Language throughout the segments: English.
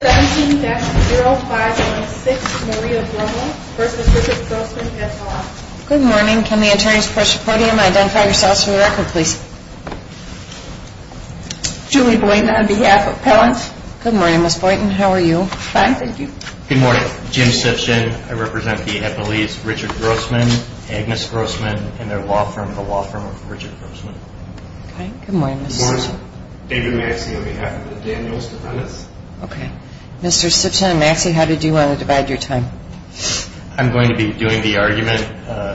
17-0516 Maria Brummel v. Richard Grossman, F.L.A. Good morning. Can the attorneys present at the podium identify yourselves for the record, please? Julie Boynton on behalf of Pellant. Good morning, Ms. Boynton. How are you? Fine, thank you. Good morning. Jim Simpson. I represent the FLE's Richard Grossman, Agnes Grossman, and their law firm, the law firm of Richard Grossman. Good morning, Ms. Morrison. David Maxey on behalf of the Daniels Defendants. Okay. Mr. Simpson and Maxey, how did you want to divide your time? I'm going to be doing the argument.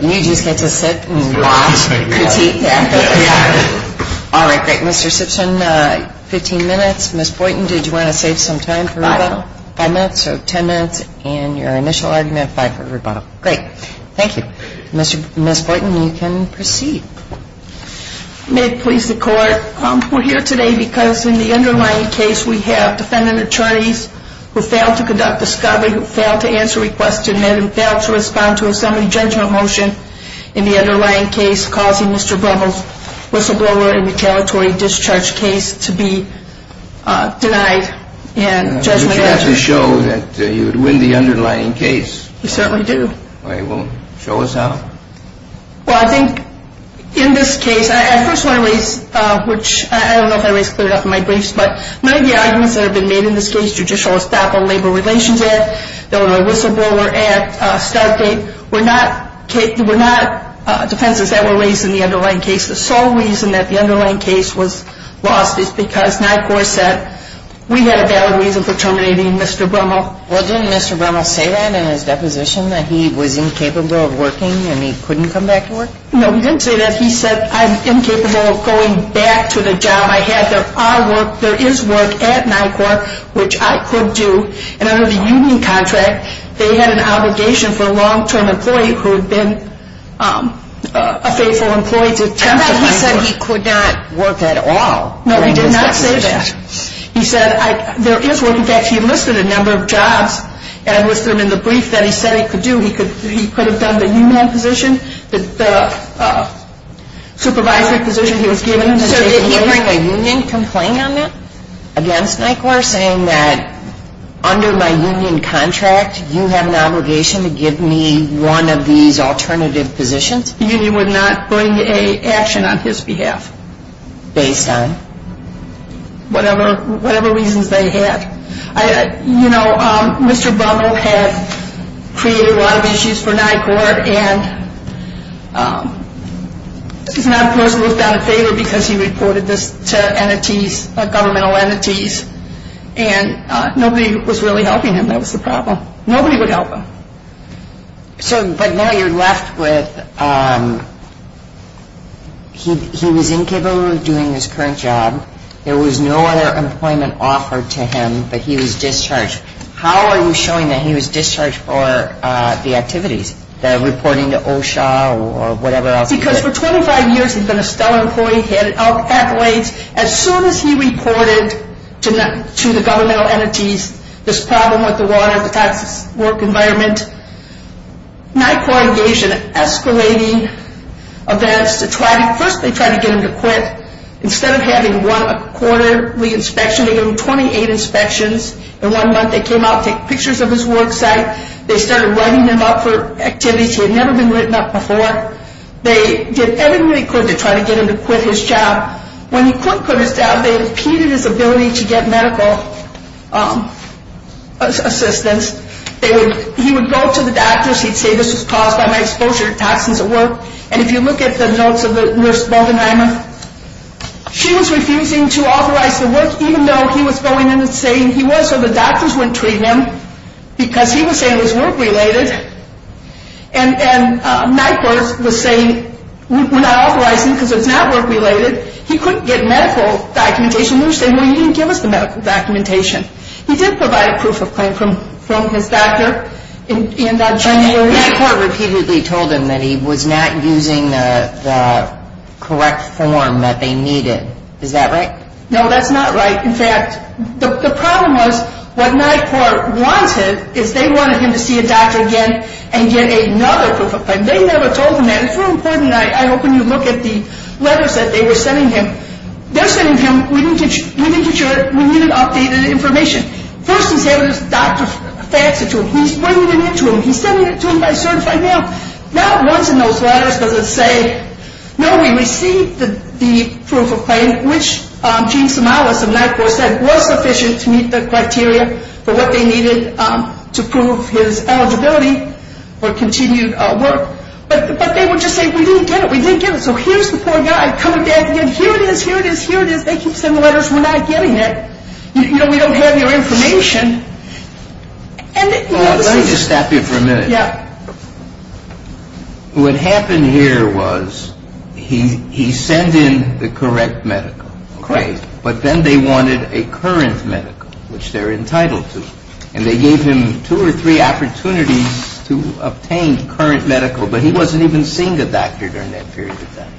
You just get to sit and watch, critique that. Yeah. All right, great. Mr. Simpson, 15 minutes. Ms. Boynton, did you want to save some time for rebuttal? Five. Five minutes, so 10 minutes in your initial argument, five for rebuttal. Great. Thank you. Thank you. Ms. Boynton, you can proceed. May it please the Court, we're here today because in the underlying case we have defendant attorneys who failed to conduct discovery, who failed to answer requests to admit, and failed to respond to a summary judgment motion in the underlying case, causing Mr. Breville's whistleblower and retaliatory discharge case to be denied judgment. You have to show that you would win the underlying case. We certainly do. All right, well, show us how. Well, I think in this case, I first want to raise, which I don't know if I raised clearly enough in my briefs, but many of the arguments that have been made in this case, judicial estoppel, labor relations act, the whistleblower act, start date, were not defenses that were raised in the underlying case. The sole reason that the underlying case was lost is because my court said we had a valid reason for terminating Mr. Breville. Well, didn't Mr. Breville say that in his deposition, that he was incapable of working and he couldn't come back to work? No, he didn't say that. He said, I'm incapable of going back to the job I had. There is work at NICOR, which I could do, and under the union contract, they had an obligation for a long-term employee who had been a faithful employee to temporarily work. He said he could not work at all. No, he did not say that. He said there is work. In fact, he enlisted a number of jobs and enlisted them in the brief that he said he could do. He could have done the union position, the supervisory position he was given. So did he bring a union complaint on that against NICOR saying that under my union contract, you have an obligation to give me one of these alternative positions? The union would not bring an action on his behalf. Based on? Whatever reasons they had. You know, Mr. Brummel had created a lot of issues for NICOR, and he's not a person who's done a favor because he reported this to entities, governmental entities, and nobody was really helping him. That was the problem. Nobody would help him. So, but now you're left with he was incapable of doing his current job. There was no other employment offered to him, but he was discharged. How are you showing that he was discharged for the activities, the reporting to OSHA or whatever else? Because for 25 years he's been a stellar employee, he had an outpack of ways. As soon as he reported to the governmental entities this problem with the water, the toxic work environment, NICOR engaged in escalating events to try to, first they tried to get him to quit. Instead of having one quarter re-inspection, they gave him 28 inspections. In one month they came out, took pictures of his work site. They started writing him up for activities he had never been written up before. They did everything they could to try to get him to quit his job. When he quit his job, they impeded his ability to get medical assistance. He would go to the doctors. He'd say this was caused by my exposure to toxins at work. And if you look at the notes of the nurse, she was refusing to authorize the work, even though he was going in and saying he was, so the doctors wouldn't treat him, because he was saying it was work-related. And NICOR was saying we're not authorizing because it's not work-related. He couldn't get medical documentation. They were saying, well, you didn't give us the medical documentation. He did provide a proof of claim from his doctor in that January. And NICOR repeatedly told him that he was not using the correct form that they needed. Is that right? No, that's not right. In fact, the problem was what NICOR wanted is they wanted him to see a doctor again and get another proof of claim. They never told him that. It's really important. I hope when you look at the letters that they were sending him, they're sending him, we need to get your, we need an updated information. First he's having his doctor fax it to him. He's bringing it in to him. He's sending it to him by certified mail. Not once in those letters does it say, no, we received the proof of claim, which Gene Somalis of NICOR said was sufficient to meet the criteria for what they needed to prove his eligibility for continued work. But they would just say, we didn't get it. We didn't get it. So here's the poor guy. Come again. Here it is. Here it is. Here it is. They keep sending letters. We're not getting it. We don't have your information. Let me just stop you for a minute. Yeah. What happened here was he sent in the correct medical. Correct. But then they wanted a current medical, which they're entitled to. And they gave him two or three opportunities to obtain current medical, but he wasn't even seeing a doctor during that period of time.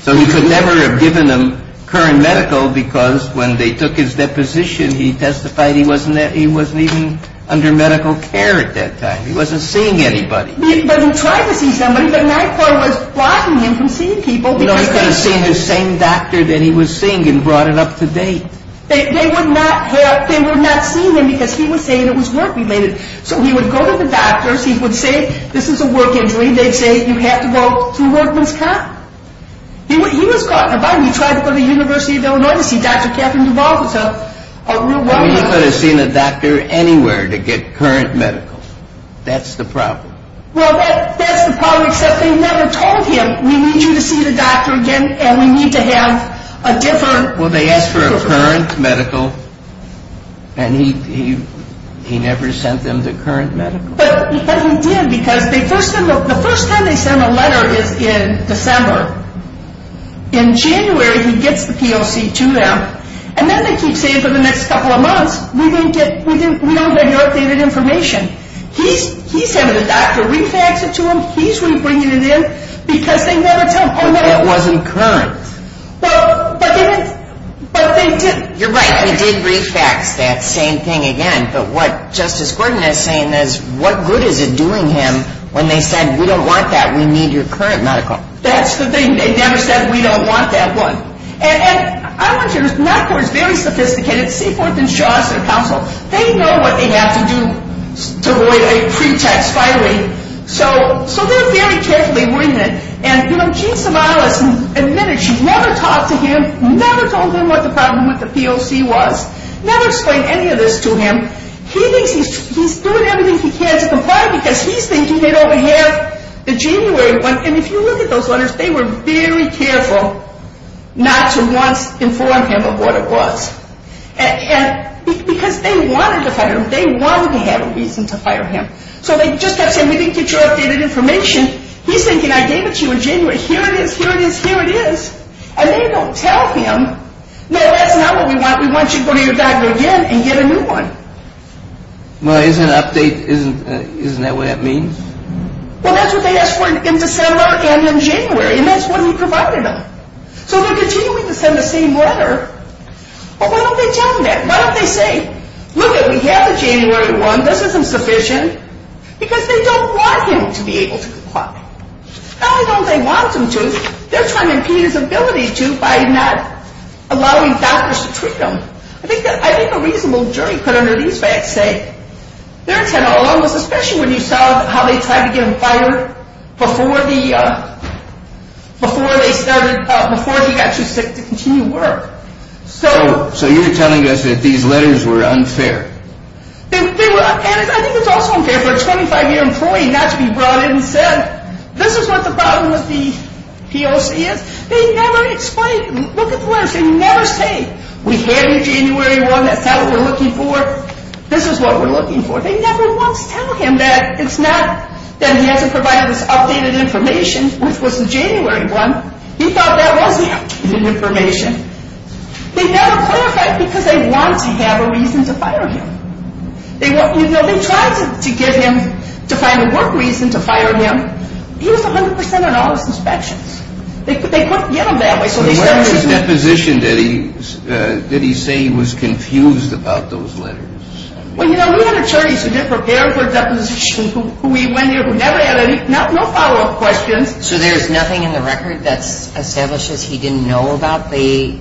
So he could never have given them current medical because when they took his deposition, he testified he wasn't even under medical care at that time. He wasn't seeing anybody. But he tried to see somebody, but NICOR was blocking him from seeing people. You know, he could have seen the same doctor that he was seeing and brought it up to date. They would not help. They would not see him because he was saying it was work-related. So he would go to the doctors. He would say, this is a work injury. They'd say, you have to go to a workman's cop. He was caught in a bind. He tried to go to the University of Illinois to see Dr. Catherine Duvall, who's a real woman. He could have seen a doctor anywhere to get current medical. That's the problem. Well, that's the problem except they never told him, we need you to see the doctor again and we need to have a different. Well, they asked for a current medical and he never sent them the current medical. But he did because the first time they sent a letter is in December. In January, he gets the POC to them. And then they keep saying for the next couple of months, we don't get your updated information. He's having the doctor refax it to him. He's bringing it in because they never tell him. But that wasn't current. But they did. You're right. He did refax that same thing again. But what Justice Gordon is saying is, what good is it doing him when they said, we don't want that, we need your current medical. That's the thing. They never said, we don't want that one. And I want you to notice, NACOR is very sophisticated. Seaforth and Shaw is their counsel. They know what they have to do to avoid a pretext filing. So they're very carefully written. And, you know, Jean Somalis admitted she never talked to him, never told him what the problem with the POC was, never explained any of this to him. He thinks he's doing everything he can to comply because he's thinking they don't have the January one. And if you look at those letters, they were very careful. Not to once inform him of what it was. Because they wanted to fire him. They wanted to have a reason to fire him. So they just kept saying, we didn't get your updated information. He's thinking, I gave it to you in January. Here it is, here it is, here it is. And they don't tell him. No, that's not what we want. We want you to go to your doctor again and get a new one. Well, isn't an update, isn't that what that means? Well, that's what they asked for in December and in January. And that's what he provided them. So they're continuing to send the same letter. But why don't they tell him that? Why don't they say, look, we have the January one. This isn't sufficient. Because they don't want him to be able to comply. Not only don't they want him to, they're trying to impede his ability to by not allowing doctors to treat him. I think a reasonable jury put under these facts say, especially when you saw how they tried to get him fired before he got to continue work. So you're telling us that these letters were unfair. And I think it's also unfair for a 25-year employee not to be brought in and said, this is what the problem with the POC is. They never explain. Look at the letters. They never say, we have your January one. That's not what we're looking for. This is what we're looking for. They never once tell him that. It's not that he hasn't provided this updated information, which was the January one. He thought that was the updated information. They never clarify it because they want to have a reason to fire him. You know, they tried to give him, to find a work reason to fire him. He was 100% on all his inspections. They couldn't get him that way. What about his deposition? Did he say he was confused about those letters? Well, you know, we had attorneys who did prepare for deposition. We went there. We never had any follow-up questions. So there's nothing in the record that establishes he didn't know about the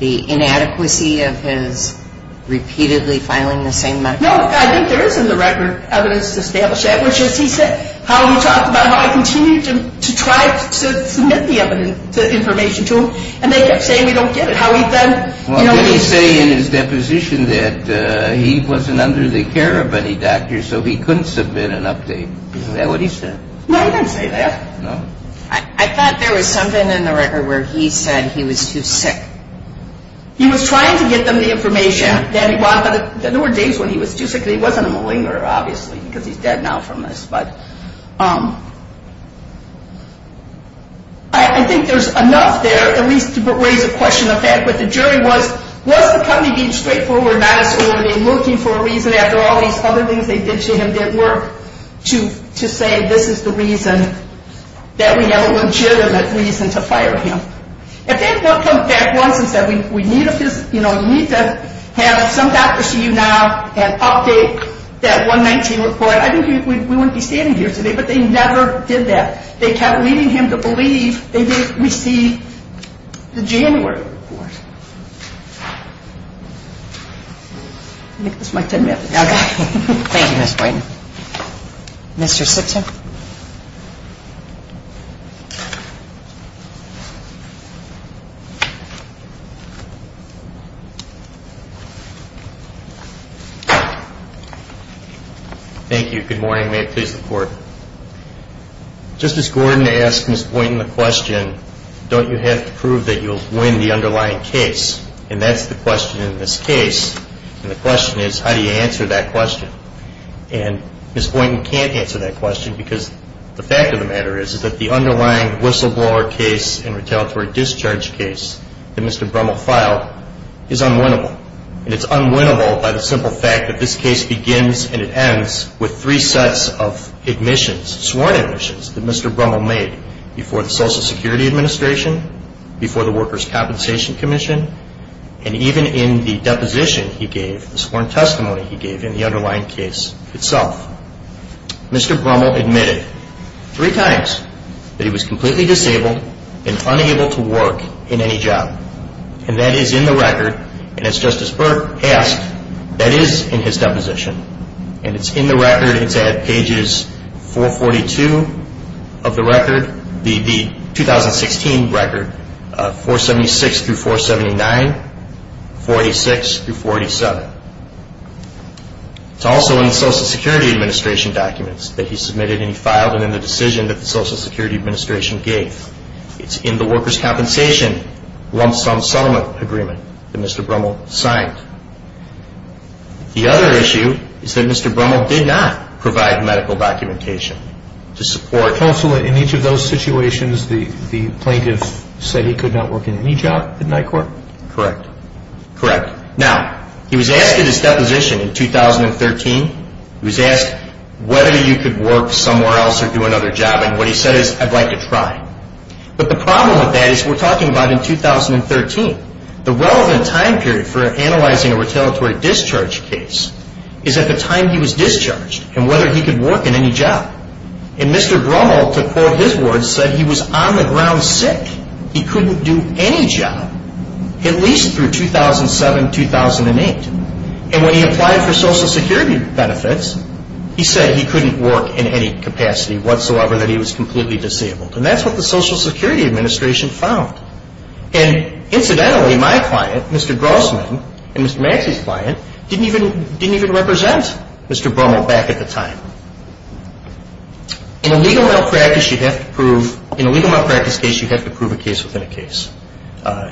inadequacy of his repeatedly filing the same medical report? No, I think there is in the record evidence to establish that, how he talked about how I continued to try to submit the information to him, and they kept saying we don't get it. How he then, you know, Well, didn't he say in his deposition that he wasn't under the care of any doctors, so he couldn't submit an update? Isn't that what he said? No, he didn't say that. No? I thought there was something in the record where he said he was too sick. He was trying to get them the information that he wanted, but there were days when he was too sick. He wasn't a malingerer, obviously, because he's dead now from this. But I think there's enough there, at least to raise a question of that. But the jury was, was the company being straightforward, not as ordered in looking for a reason after all these other things they did to him didn't work to say this is the reason that we have a legitimate reason to fire him? If they had come back once and said, you know, you need to have some doctors see you now and update that 119 report, I think we wouldn't be standing here today. But they never did that. They kept leading him to believe they didn't receive the January report. I think this is my 10 minutes. Okay. Thank you, Ms. Boyden. Mr. Simpson? Thank you. Good morning. May it please the Court. Justice Gordon asked Ms. Boyden the question, don't you have to prove that you'll win the underlying case? And that's the question in this case. And the question is, how do you answer that question? She's not an attorney. She's not a lawyer. I'm not an attorney because the fact of the matter is that the underlying whistleblower case and retaliatory discharge case that Mr. Brummel filed is unwinnable. And it's unwinnable by the simple fact that this case begins and it ends with three sets of admissions, sworn admissions, that Mr. Brummel made before the Social Security Administration, before the Workers' Compensation Commission, and even in the deposition he gave, the sworn testimony he gave in the underlying case itself. Mr. Brummel admitted three times that he was completely disabled and unable to work in any job. And that is in the record. And as Justice Burke asked, that is in his deposition. And it's in the record. It's at pages 442 of the record, the 2016 record, 476 through 479, 486 through 487. It's also in the Social Security Administration documents that he submitted and he filed it in the decision that the Social Security Administration gave. It's in the Workers' Compensation lump sum settlement agreement that Mr. Brummel signed. The other issue is that Mr. Brummel did not provide medical documentation to support. Counsel, in each of those situations, the plaintiff said he could not work in any job at NYCORP? Correct. Correct. Now, he was asked in his deposition in 2013, he was asked whether you could work somewhere else or do another job, and what he said is, I'd like to try. But the problem with that is we're talking about in 2013. The relevant time period for analyzing a retaliatory discharge case is at the time he was discharged and whether he could work in any job. And Mr. Brummel, to quote his words, said he was on the ground sick. He couldn't do any job. At least through 2007, 2008. And when he applied for Social Security benefits, he said he couldn't work in any capacity whatsoever, that he was completely disabled. And that's what the Social Security Administration found. And incidentally, my client, Mr. Grossman, and Mr. Maxey's client, didn't even represent Mr. Brummel back at the time. In a legal mental practice case, you have to prove a case within a case.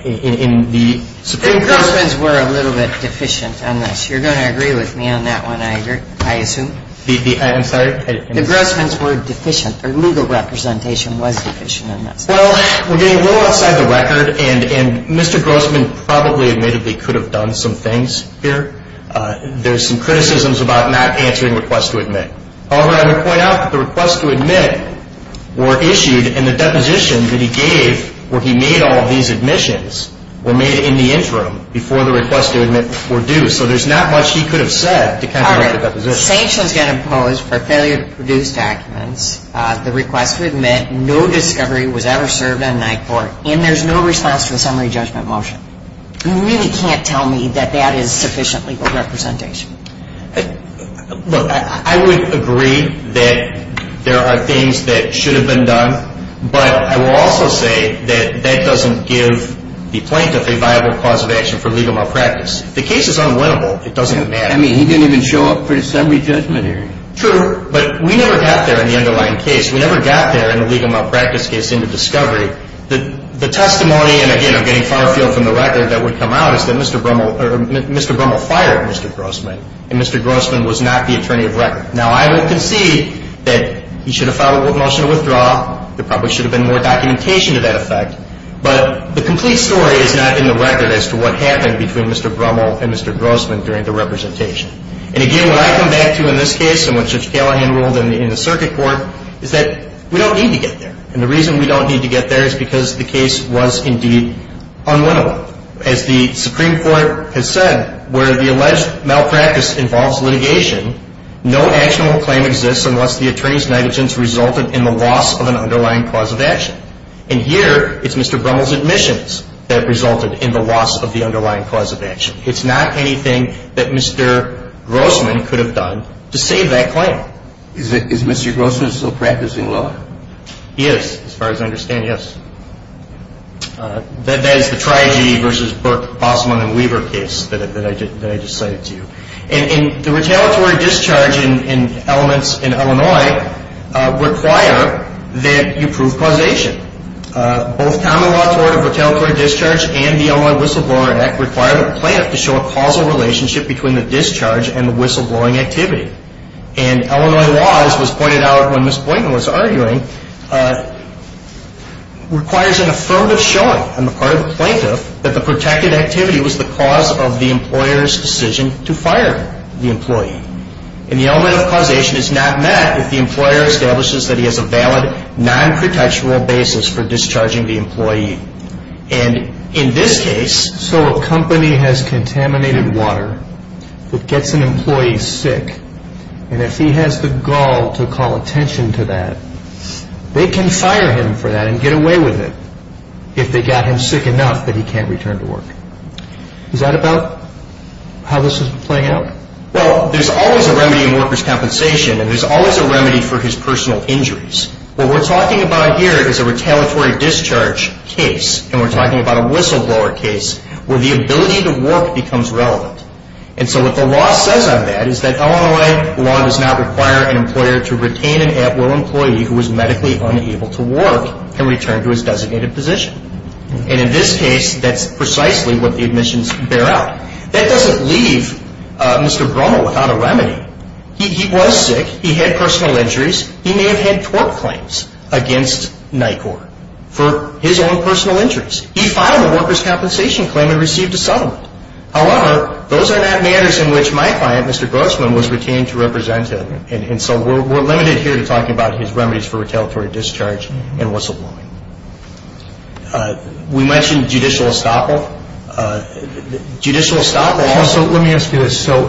In the Supreme Court. And Grossman's were a little bit deficient on this. You're going to agree with me on that one, I assume. I'm sorry? The Grossman's were deficient. Their legal representation was deficient on this. Well, we're getting a little outside the record, and Mr. Grossman probably admittedly could have done some things here. There's some criticisms about not answering requests to admit. However, I would point out that the requests to admit were issued, and the deposition that he gave where he made all these admissions were made in the interim, before the requests to admit were due. So there's not much he could have said to counteract the deposition. All right. Sanctions get imposed for failure to produce documents. The request to admit, no discovery was ever served on night court. And there's no response to a summary judgment motion. You really can't tell me that that is sufficient legal representation. Look, I would agree that there are things that should have been done, but I will also say that that doesn't give the plaintiff a viable cause of action for legal malpractice. If the case is unwinnable, it doesn't matter. I mean, he didn't even show up for the summary judgment hearing. True, but we never got there in the underlying case. We never got there in the legal malpractice case into discovery. The testimony, and, again, I'm getting far afield from the record that would come out, is that Mr. Brummel fired Mr. Grossman, and Mr. Grossman was not the attorney of record. Now, I would concede that he should have filed a motion to withdraw. There probably should have been more documentation to that effect. But the complete story is not in the record as to what happened between Mr. Brummel and Mr. Grossman during the representation. And, again, what I come back to in this case and what Judge Callahan ruled in the circuit court is that we don't need to get there. And the reason we don't need to get there is because the case was indeed unwinnable. As the Supreme Court has said, where the alleged malpractice involves litigation, no actionable claim exists unless the attorney's negligence resulted in the loss of an underlying cause of action. And here, it's Mr. Brummel's admissions that resulted in the loss of the underlying cause of action. It's not anything that Mr. Grossman could have done to save that claim. Is Mr. Grossman still practicing law? He is, as far as I understand, yes. That is the Triagee versus Bossman and Weaver case that I just cited to you. And the retaliatory discharge in elements in Illinois require that you prove causation. Both common law tort of retaliatory discharge and the Illinois Whistleblower Act require the plaintiff to show a causal relationship between the discharge and the whistleblowing activity. And Illinois law, as was pointed out when Ms. Boynton was arguing, requires an affirmative showing on the part of the plaintiff that the protected activity was the cause of the employer's decision to fire the employee. And the element of causation is not met if the employer establishes that he has a valid non-credential basis for discharging the employee. And in this case, so a company has contaminated water that gets an employee sick, and if he has the gall to call attention to that, they can fire him for that and get away with it if they got him sick enough that he can't return to work. Is that about how this is playing out? Well, there's always a remedy in workers' compensation, and there's always a remedy for his personal injuries. What we're talking about here is a retaliatory discharge case, and we're talking about a whistleblower case where the ability to work becomes relevant. And so what the law says on that is that Illinois law does not require an employer to retain an at-will employee who is medically unable to work and return to his designated position. And in this case, that's precisely what the admissions bear out. That doesn't leave Mr. Brummel without a remedy. He was sick. He had personal injuries. He may have had tort claims against NICOR for his own personal injuries. He filed a workers' compensation claim and received a settlement. However, those are not matters in which my client, Mr. Grossman, was retained to represent him, and so we're limited here to talking about his remedies for retaliatory discharge and whistleblowing. We mentioned judicial estoppel. Judicial estoppel. So let me ask you this. So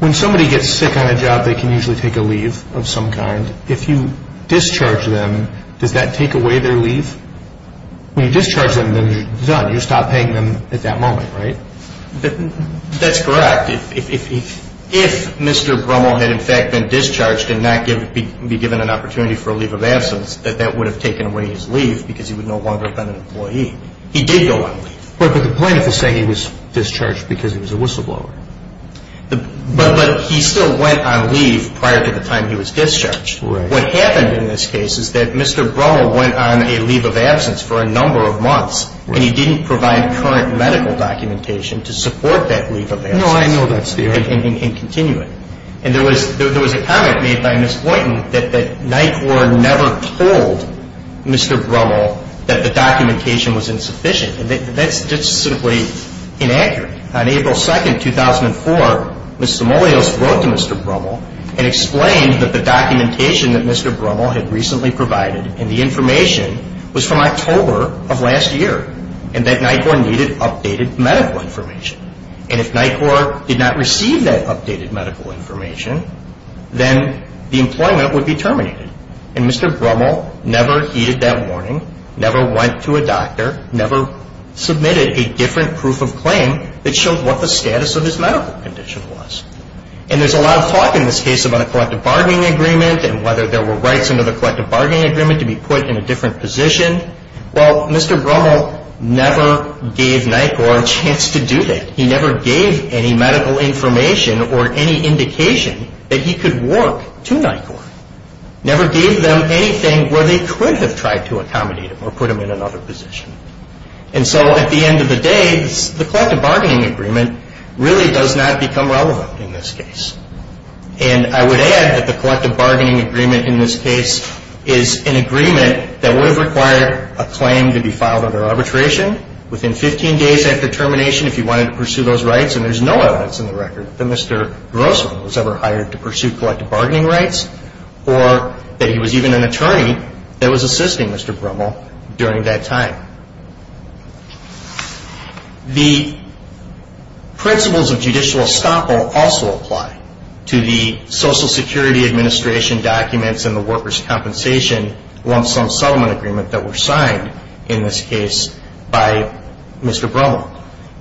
when somebody gets sick on a job, they can usually take a leave of some kind. If you discharge them, does that take away their leave? When you discharge them, then you're done. You stop paying them at that moment, right? That's correct. If Mr. Brummel had, in fact, been discharged and not be given an opportunity for a leave of absence, that that would have taken away his leave because he would no longer have been an employee. He did go on leave. But the plaintiff is saying he was discharged because he was a whistleblower. But he still went on leave prior to the time he was discharged. Right. What happened in this case is that Mr. Brummel went on a leave of absence for a number of months, and he didn't provide current medical documentation to support that leave of absence. No, I know that's the error. And continue it. And there was a comment made by Ms. Boynton that NICOR never told Mr. Brummel that the documentation was insufficient. That's just simply inaccurate. On April 2, 2004, Ms. Simoleos wrote to Mr. Brummel and explained that the documentation that Mr. Brummel had recently provided and the information was from October of last year and that NICOR needed updated medical information. And if NICOR did not receive that updated medical information, then the employment would be terminated. And Mr. Brummel never heeded that warning, never went to a doctor, never submitted a different proof of claim that showed what the status of his medical condition was. And there's a lot of talk in this case about a collective bargaining agreement and whether there were rights under the collective bargaining agreement to be put in a different position. Well, Mr. Brummel never gave NICOR a chance to do that. He never gave any medical information or any indication that he could work to NICOR. Never gave them anything where they could have tried to accommodate him or put him in another position. And so at the end of the day, the collective bargaining agreement really does not become relevant in this case. And I would add that the collective bargaining agreement in this case is an agreement that would have required a claim to be filed under arbitration within 15 days after termination if you wanted to pursue those rights and there's no evidence in the record that Mr. Grossman was ever hired to pursue collective bargaining rights or that he was even an attorney that was assisting Mr. Brummel during that time. The principles of judicial estoppel also apply to the Social Security Administration documents and the workers' compensation lump sum settlement agreement that were signed in this case by Mr. Brummel.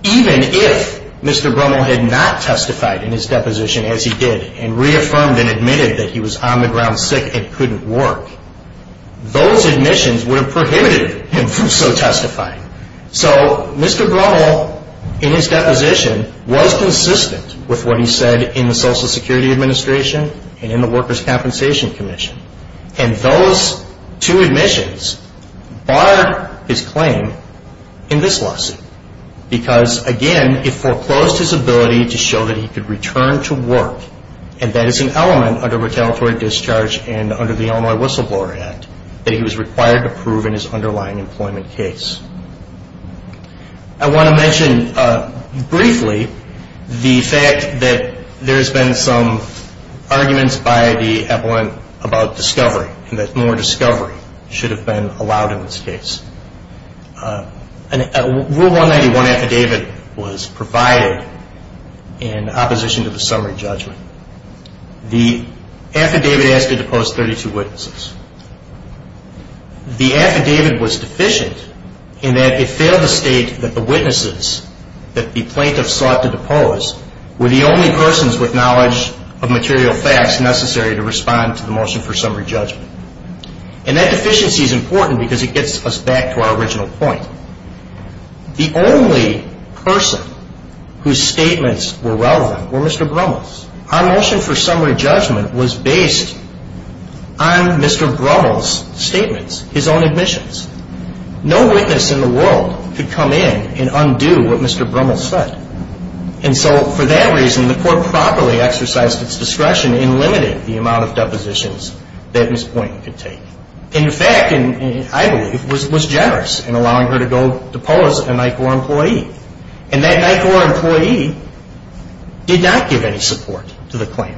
Even if Mr. Brummel had not testified in his deposition as he did and reaffirmed and admitted that he was on the ground sick and couldn't work, those admissions would have prohibited him from so testifying. So Mr. Brummel in his deposition was consistent with what he said in the Social Security Administration and in the Workers' Compensation Commission. And those two admissions barred his claim in this lawsuit because, again, it foreclosed his ability to show that he could return to work and that is an element under retaliatory discharge and under the Illinois Whistleblower Act that he was required to prove in his underlying employment case. I want to mention briefly the fact that there's been some arguments by the appellant about discovery and that more discovery should have been allowed in this case. Rule 191 affidavit was provided in opposition to the summary judgment. The affidavit asked to depose 32 witnesses. The affidavit was deficient in that it failed to state that the witnesses that the plaintiffs sought to depose were the only persons with knowledge of material facts necessary to respond to the motion for summary judgment. And that deficiency is important because it gets us back to our original point. The only person whose statements were relevant were Mr. Brummel's. Our motion for summary judgment was based on Mr. Brummel's statements, his own admissions. No witness in the world could come in and undo what Mr. Brummel said. And so for that reason, the court properly exercised its discretion in limiting the amount of depositions that Ms. Poynton could take. And in fact, I believe, was generous in allowing her to go depose a NICOR employee. And that NICOR employee did not give any support to the claim.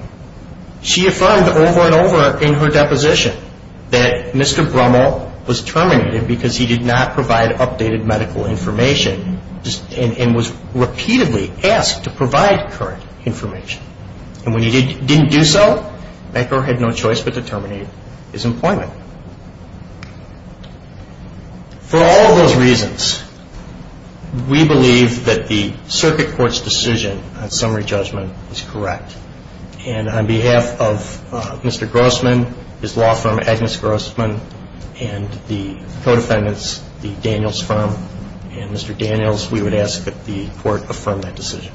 She affirmed over and over in her deposition that Mr. Brummel was terminated because he did not provide updated medical information and was repeatedly asked to provide current information. And when he didn't do so, NICOR had no choice but to terminate his employment. For all of those reasons, we believe that the circuit court's decision on summary judgment is correct. And on behalf of Mr. Grossman, his law firm, Agnes Grossman, and the co-defendants, the Daniels firm, and Mr. Daniels, we would ask that the court affirm that decision.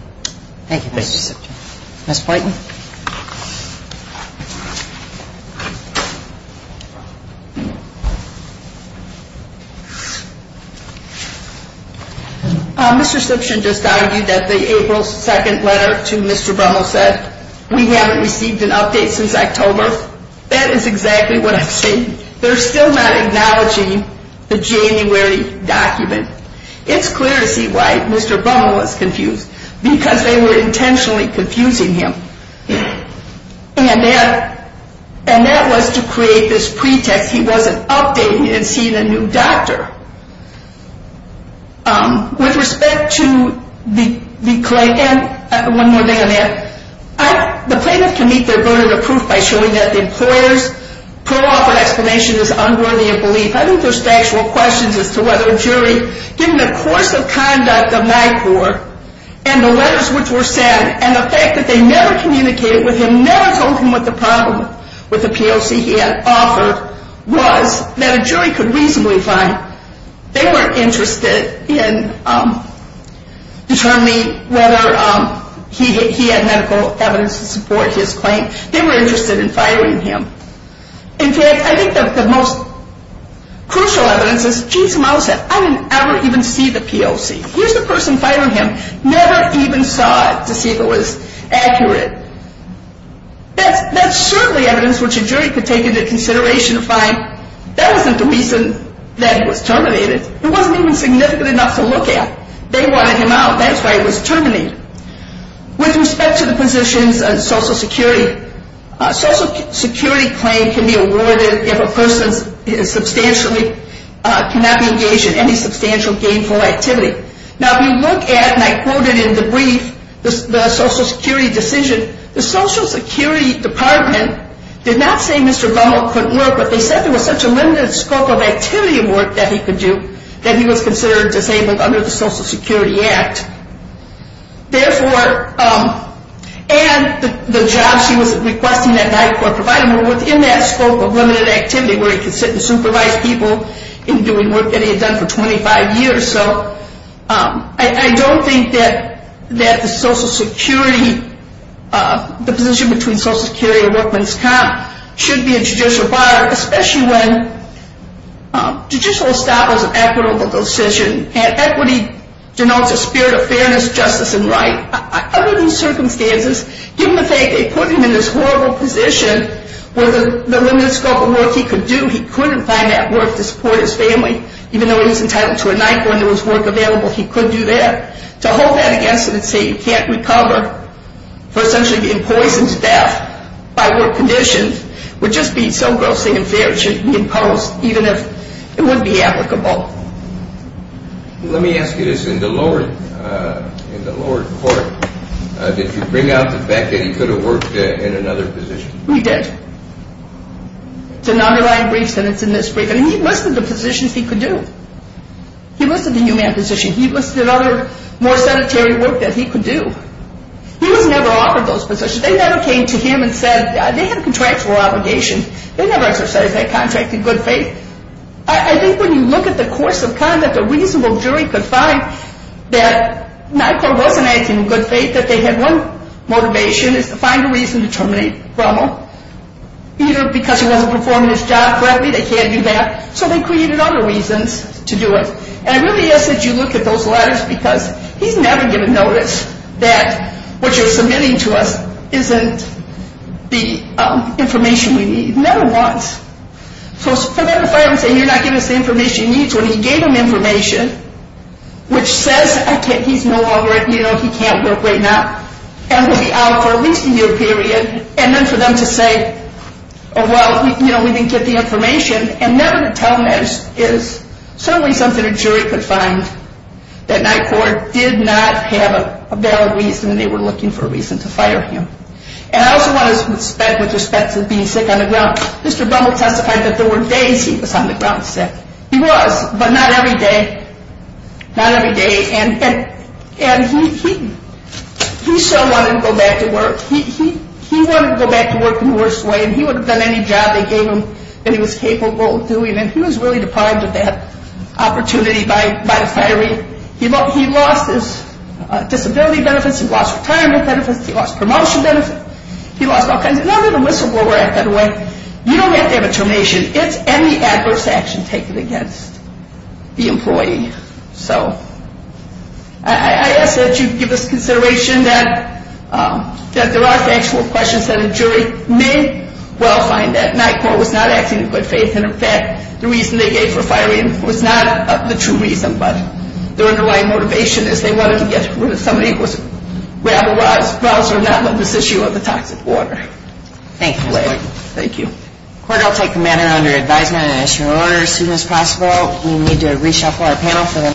Thank you, Mr. Siption. Ms. Poynton. Mr. Siption just argued that the April 2nd letter to Mr. Brummel said, we haven't received an update since October. That is exactly what I'm saying. They're still not acknowledging the January document. It's clear to see why Mr. Brummel was confused. Because they were intentionally confusing him. And that was to create this pretext he wasn't updating and seeing a new doctor. With respect to the claim, and one more thing on that, the plaintiff can meet their burden of proof by showing that the employer's pro-offer explanation is unworthy of belief. I think there's factual questions as to whether a jury, given the course of conduct of NICOR, and the letters which were sent, and the fact that they never communicated with him, never told him what the problem with the POC he had offered was, that a jury could reasonably find. They weren't interested in determining whether he had medical evidence to support his claim. They were interested in firing him. In fact, I think the most crucial evidence is, geez, I didn't ever even see the POC. Here's the person firing him. Never even saw it to see if it was accurate. That's certainly evidence which a jury could take into consideration to find, that wasn't the reason that he was terminated. It wasn't even significant enough to look at. They wanted him out. That's why he was terminated. With respect to the positions on Social Security, a Social Security claim can be awarded if a person is substantially, cannot be engaged in any substantial gainful activity. Now, if you look at, and I quoted in the brief, the Social Security decision, the Social Security Department did not say Mr. Bummel couldn't work, but they said there was such a limited scope of activity and work that he could do, that he was considered disabled under the Social Security Act. Therefore, and the jobs he was requesting that NICOR provided were within that scope of limited activity, where he could sit and supervise people in doing work that he had done for 25 years. So I don't think that the Social Security, the position between Social Security and workman's comp should be a judicial bar, especially when judicial establishment is an equitable decision, and equity denotes a spirit of fairness, justice, and right. Under these circumstances, given the fact they put him in this horrible position where the limited scope of work he could do, he couldn't find that work to support his family, even though he was entitled to a NICOR and there was work available, he could do that. To hold that against him and say he can't recover for essentially being poisoned to death by work conditions would just be so grossly unfair, it shouldn't be imposed, even if it would be applicable. Let me ask you this, in the lower court, did you bring out the fact that he could have worked in another position? We did. It's a non-reliant brief sentence in this briefing. He listed the positions he could do. He listed the new man position. He listed other more sedentary work that he could do. He was never offered those positions. They never came to him and said, they have contractual obligations. They never exercised that contract in good faith. I think when you look at the course of conduct, a reasonable jury could find that NICOR wasn't acting in good faith, that they had one motivation, is to find a reason to terminate Rommel. Either because he wasn't performing his job correctly, they can't do that, so they created other reasons to do it. And I really ask that you look at those letters because he's never given notice that what you're submitting to us isn't the information we need. Never once. For them to fire him and say, you're not giving us the information you need, when he gave them information, which says he's no longer, you know, he can't work right now, and will be out for at least a year period, and then for them to say, oh well, you know, we didn't get the information, and never to tell them that is certainly something a jury could find, that NICOR did not have a valid reason, and they were looking for a reason to fire him. And I also want to speak with respect to being sick on the ground. Mr. Rommel testified that there were days he was on the ground sick. He was, but not every day. Not every day. And he so wanted to go back to work. He wanted to go back to work in the worst way, and he would have done any job they gave him that he was capable of doing, and he was really deprived of that opportunity by the firing. He lost his disability benefits. He lost retirement benefits. He lost promotion benefits. He lost all kinds of things. Remember the Whistleblower Act, by the way. You don't have to have a termination. It's any adverse action taken against the employee. So I ask that you give us consideration that there are factual questions that a jury may well find that NICOR was not acting in good faith. And, in fact, the reason they gave for firing him was not the true reason, but their underlying motivation is they wanted to get rid of somebody who was rabble-roused or not on this issue of the toxic water. Thank you, Mr. Boyd. Thank you. Court, I'll take the matter under advisement and issue an order as soon as possible. We need to reshuffle our panel.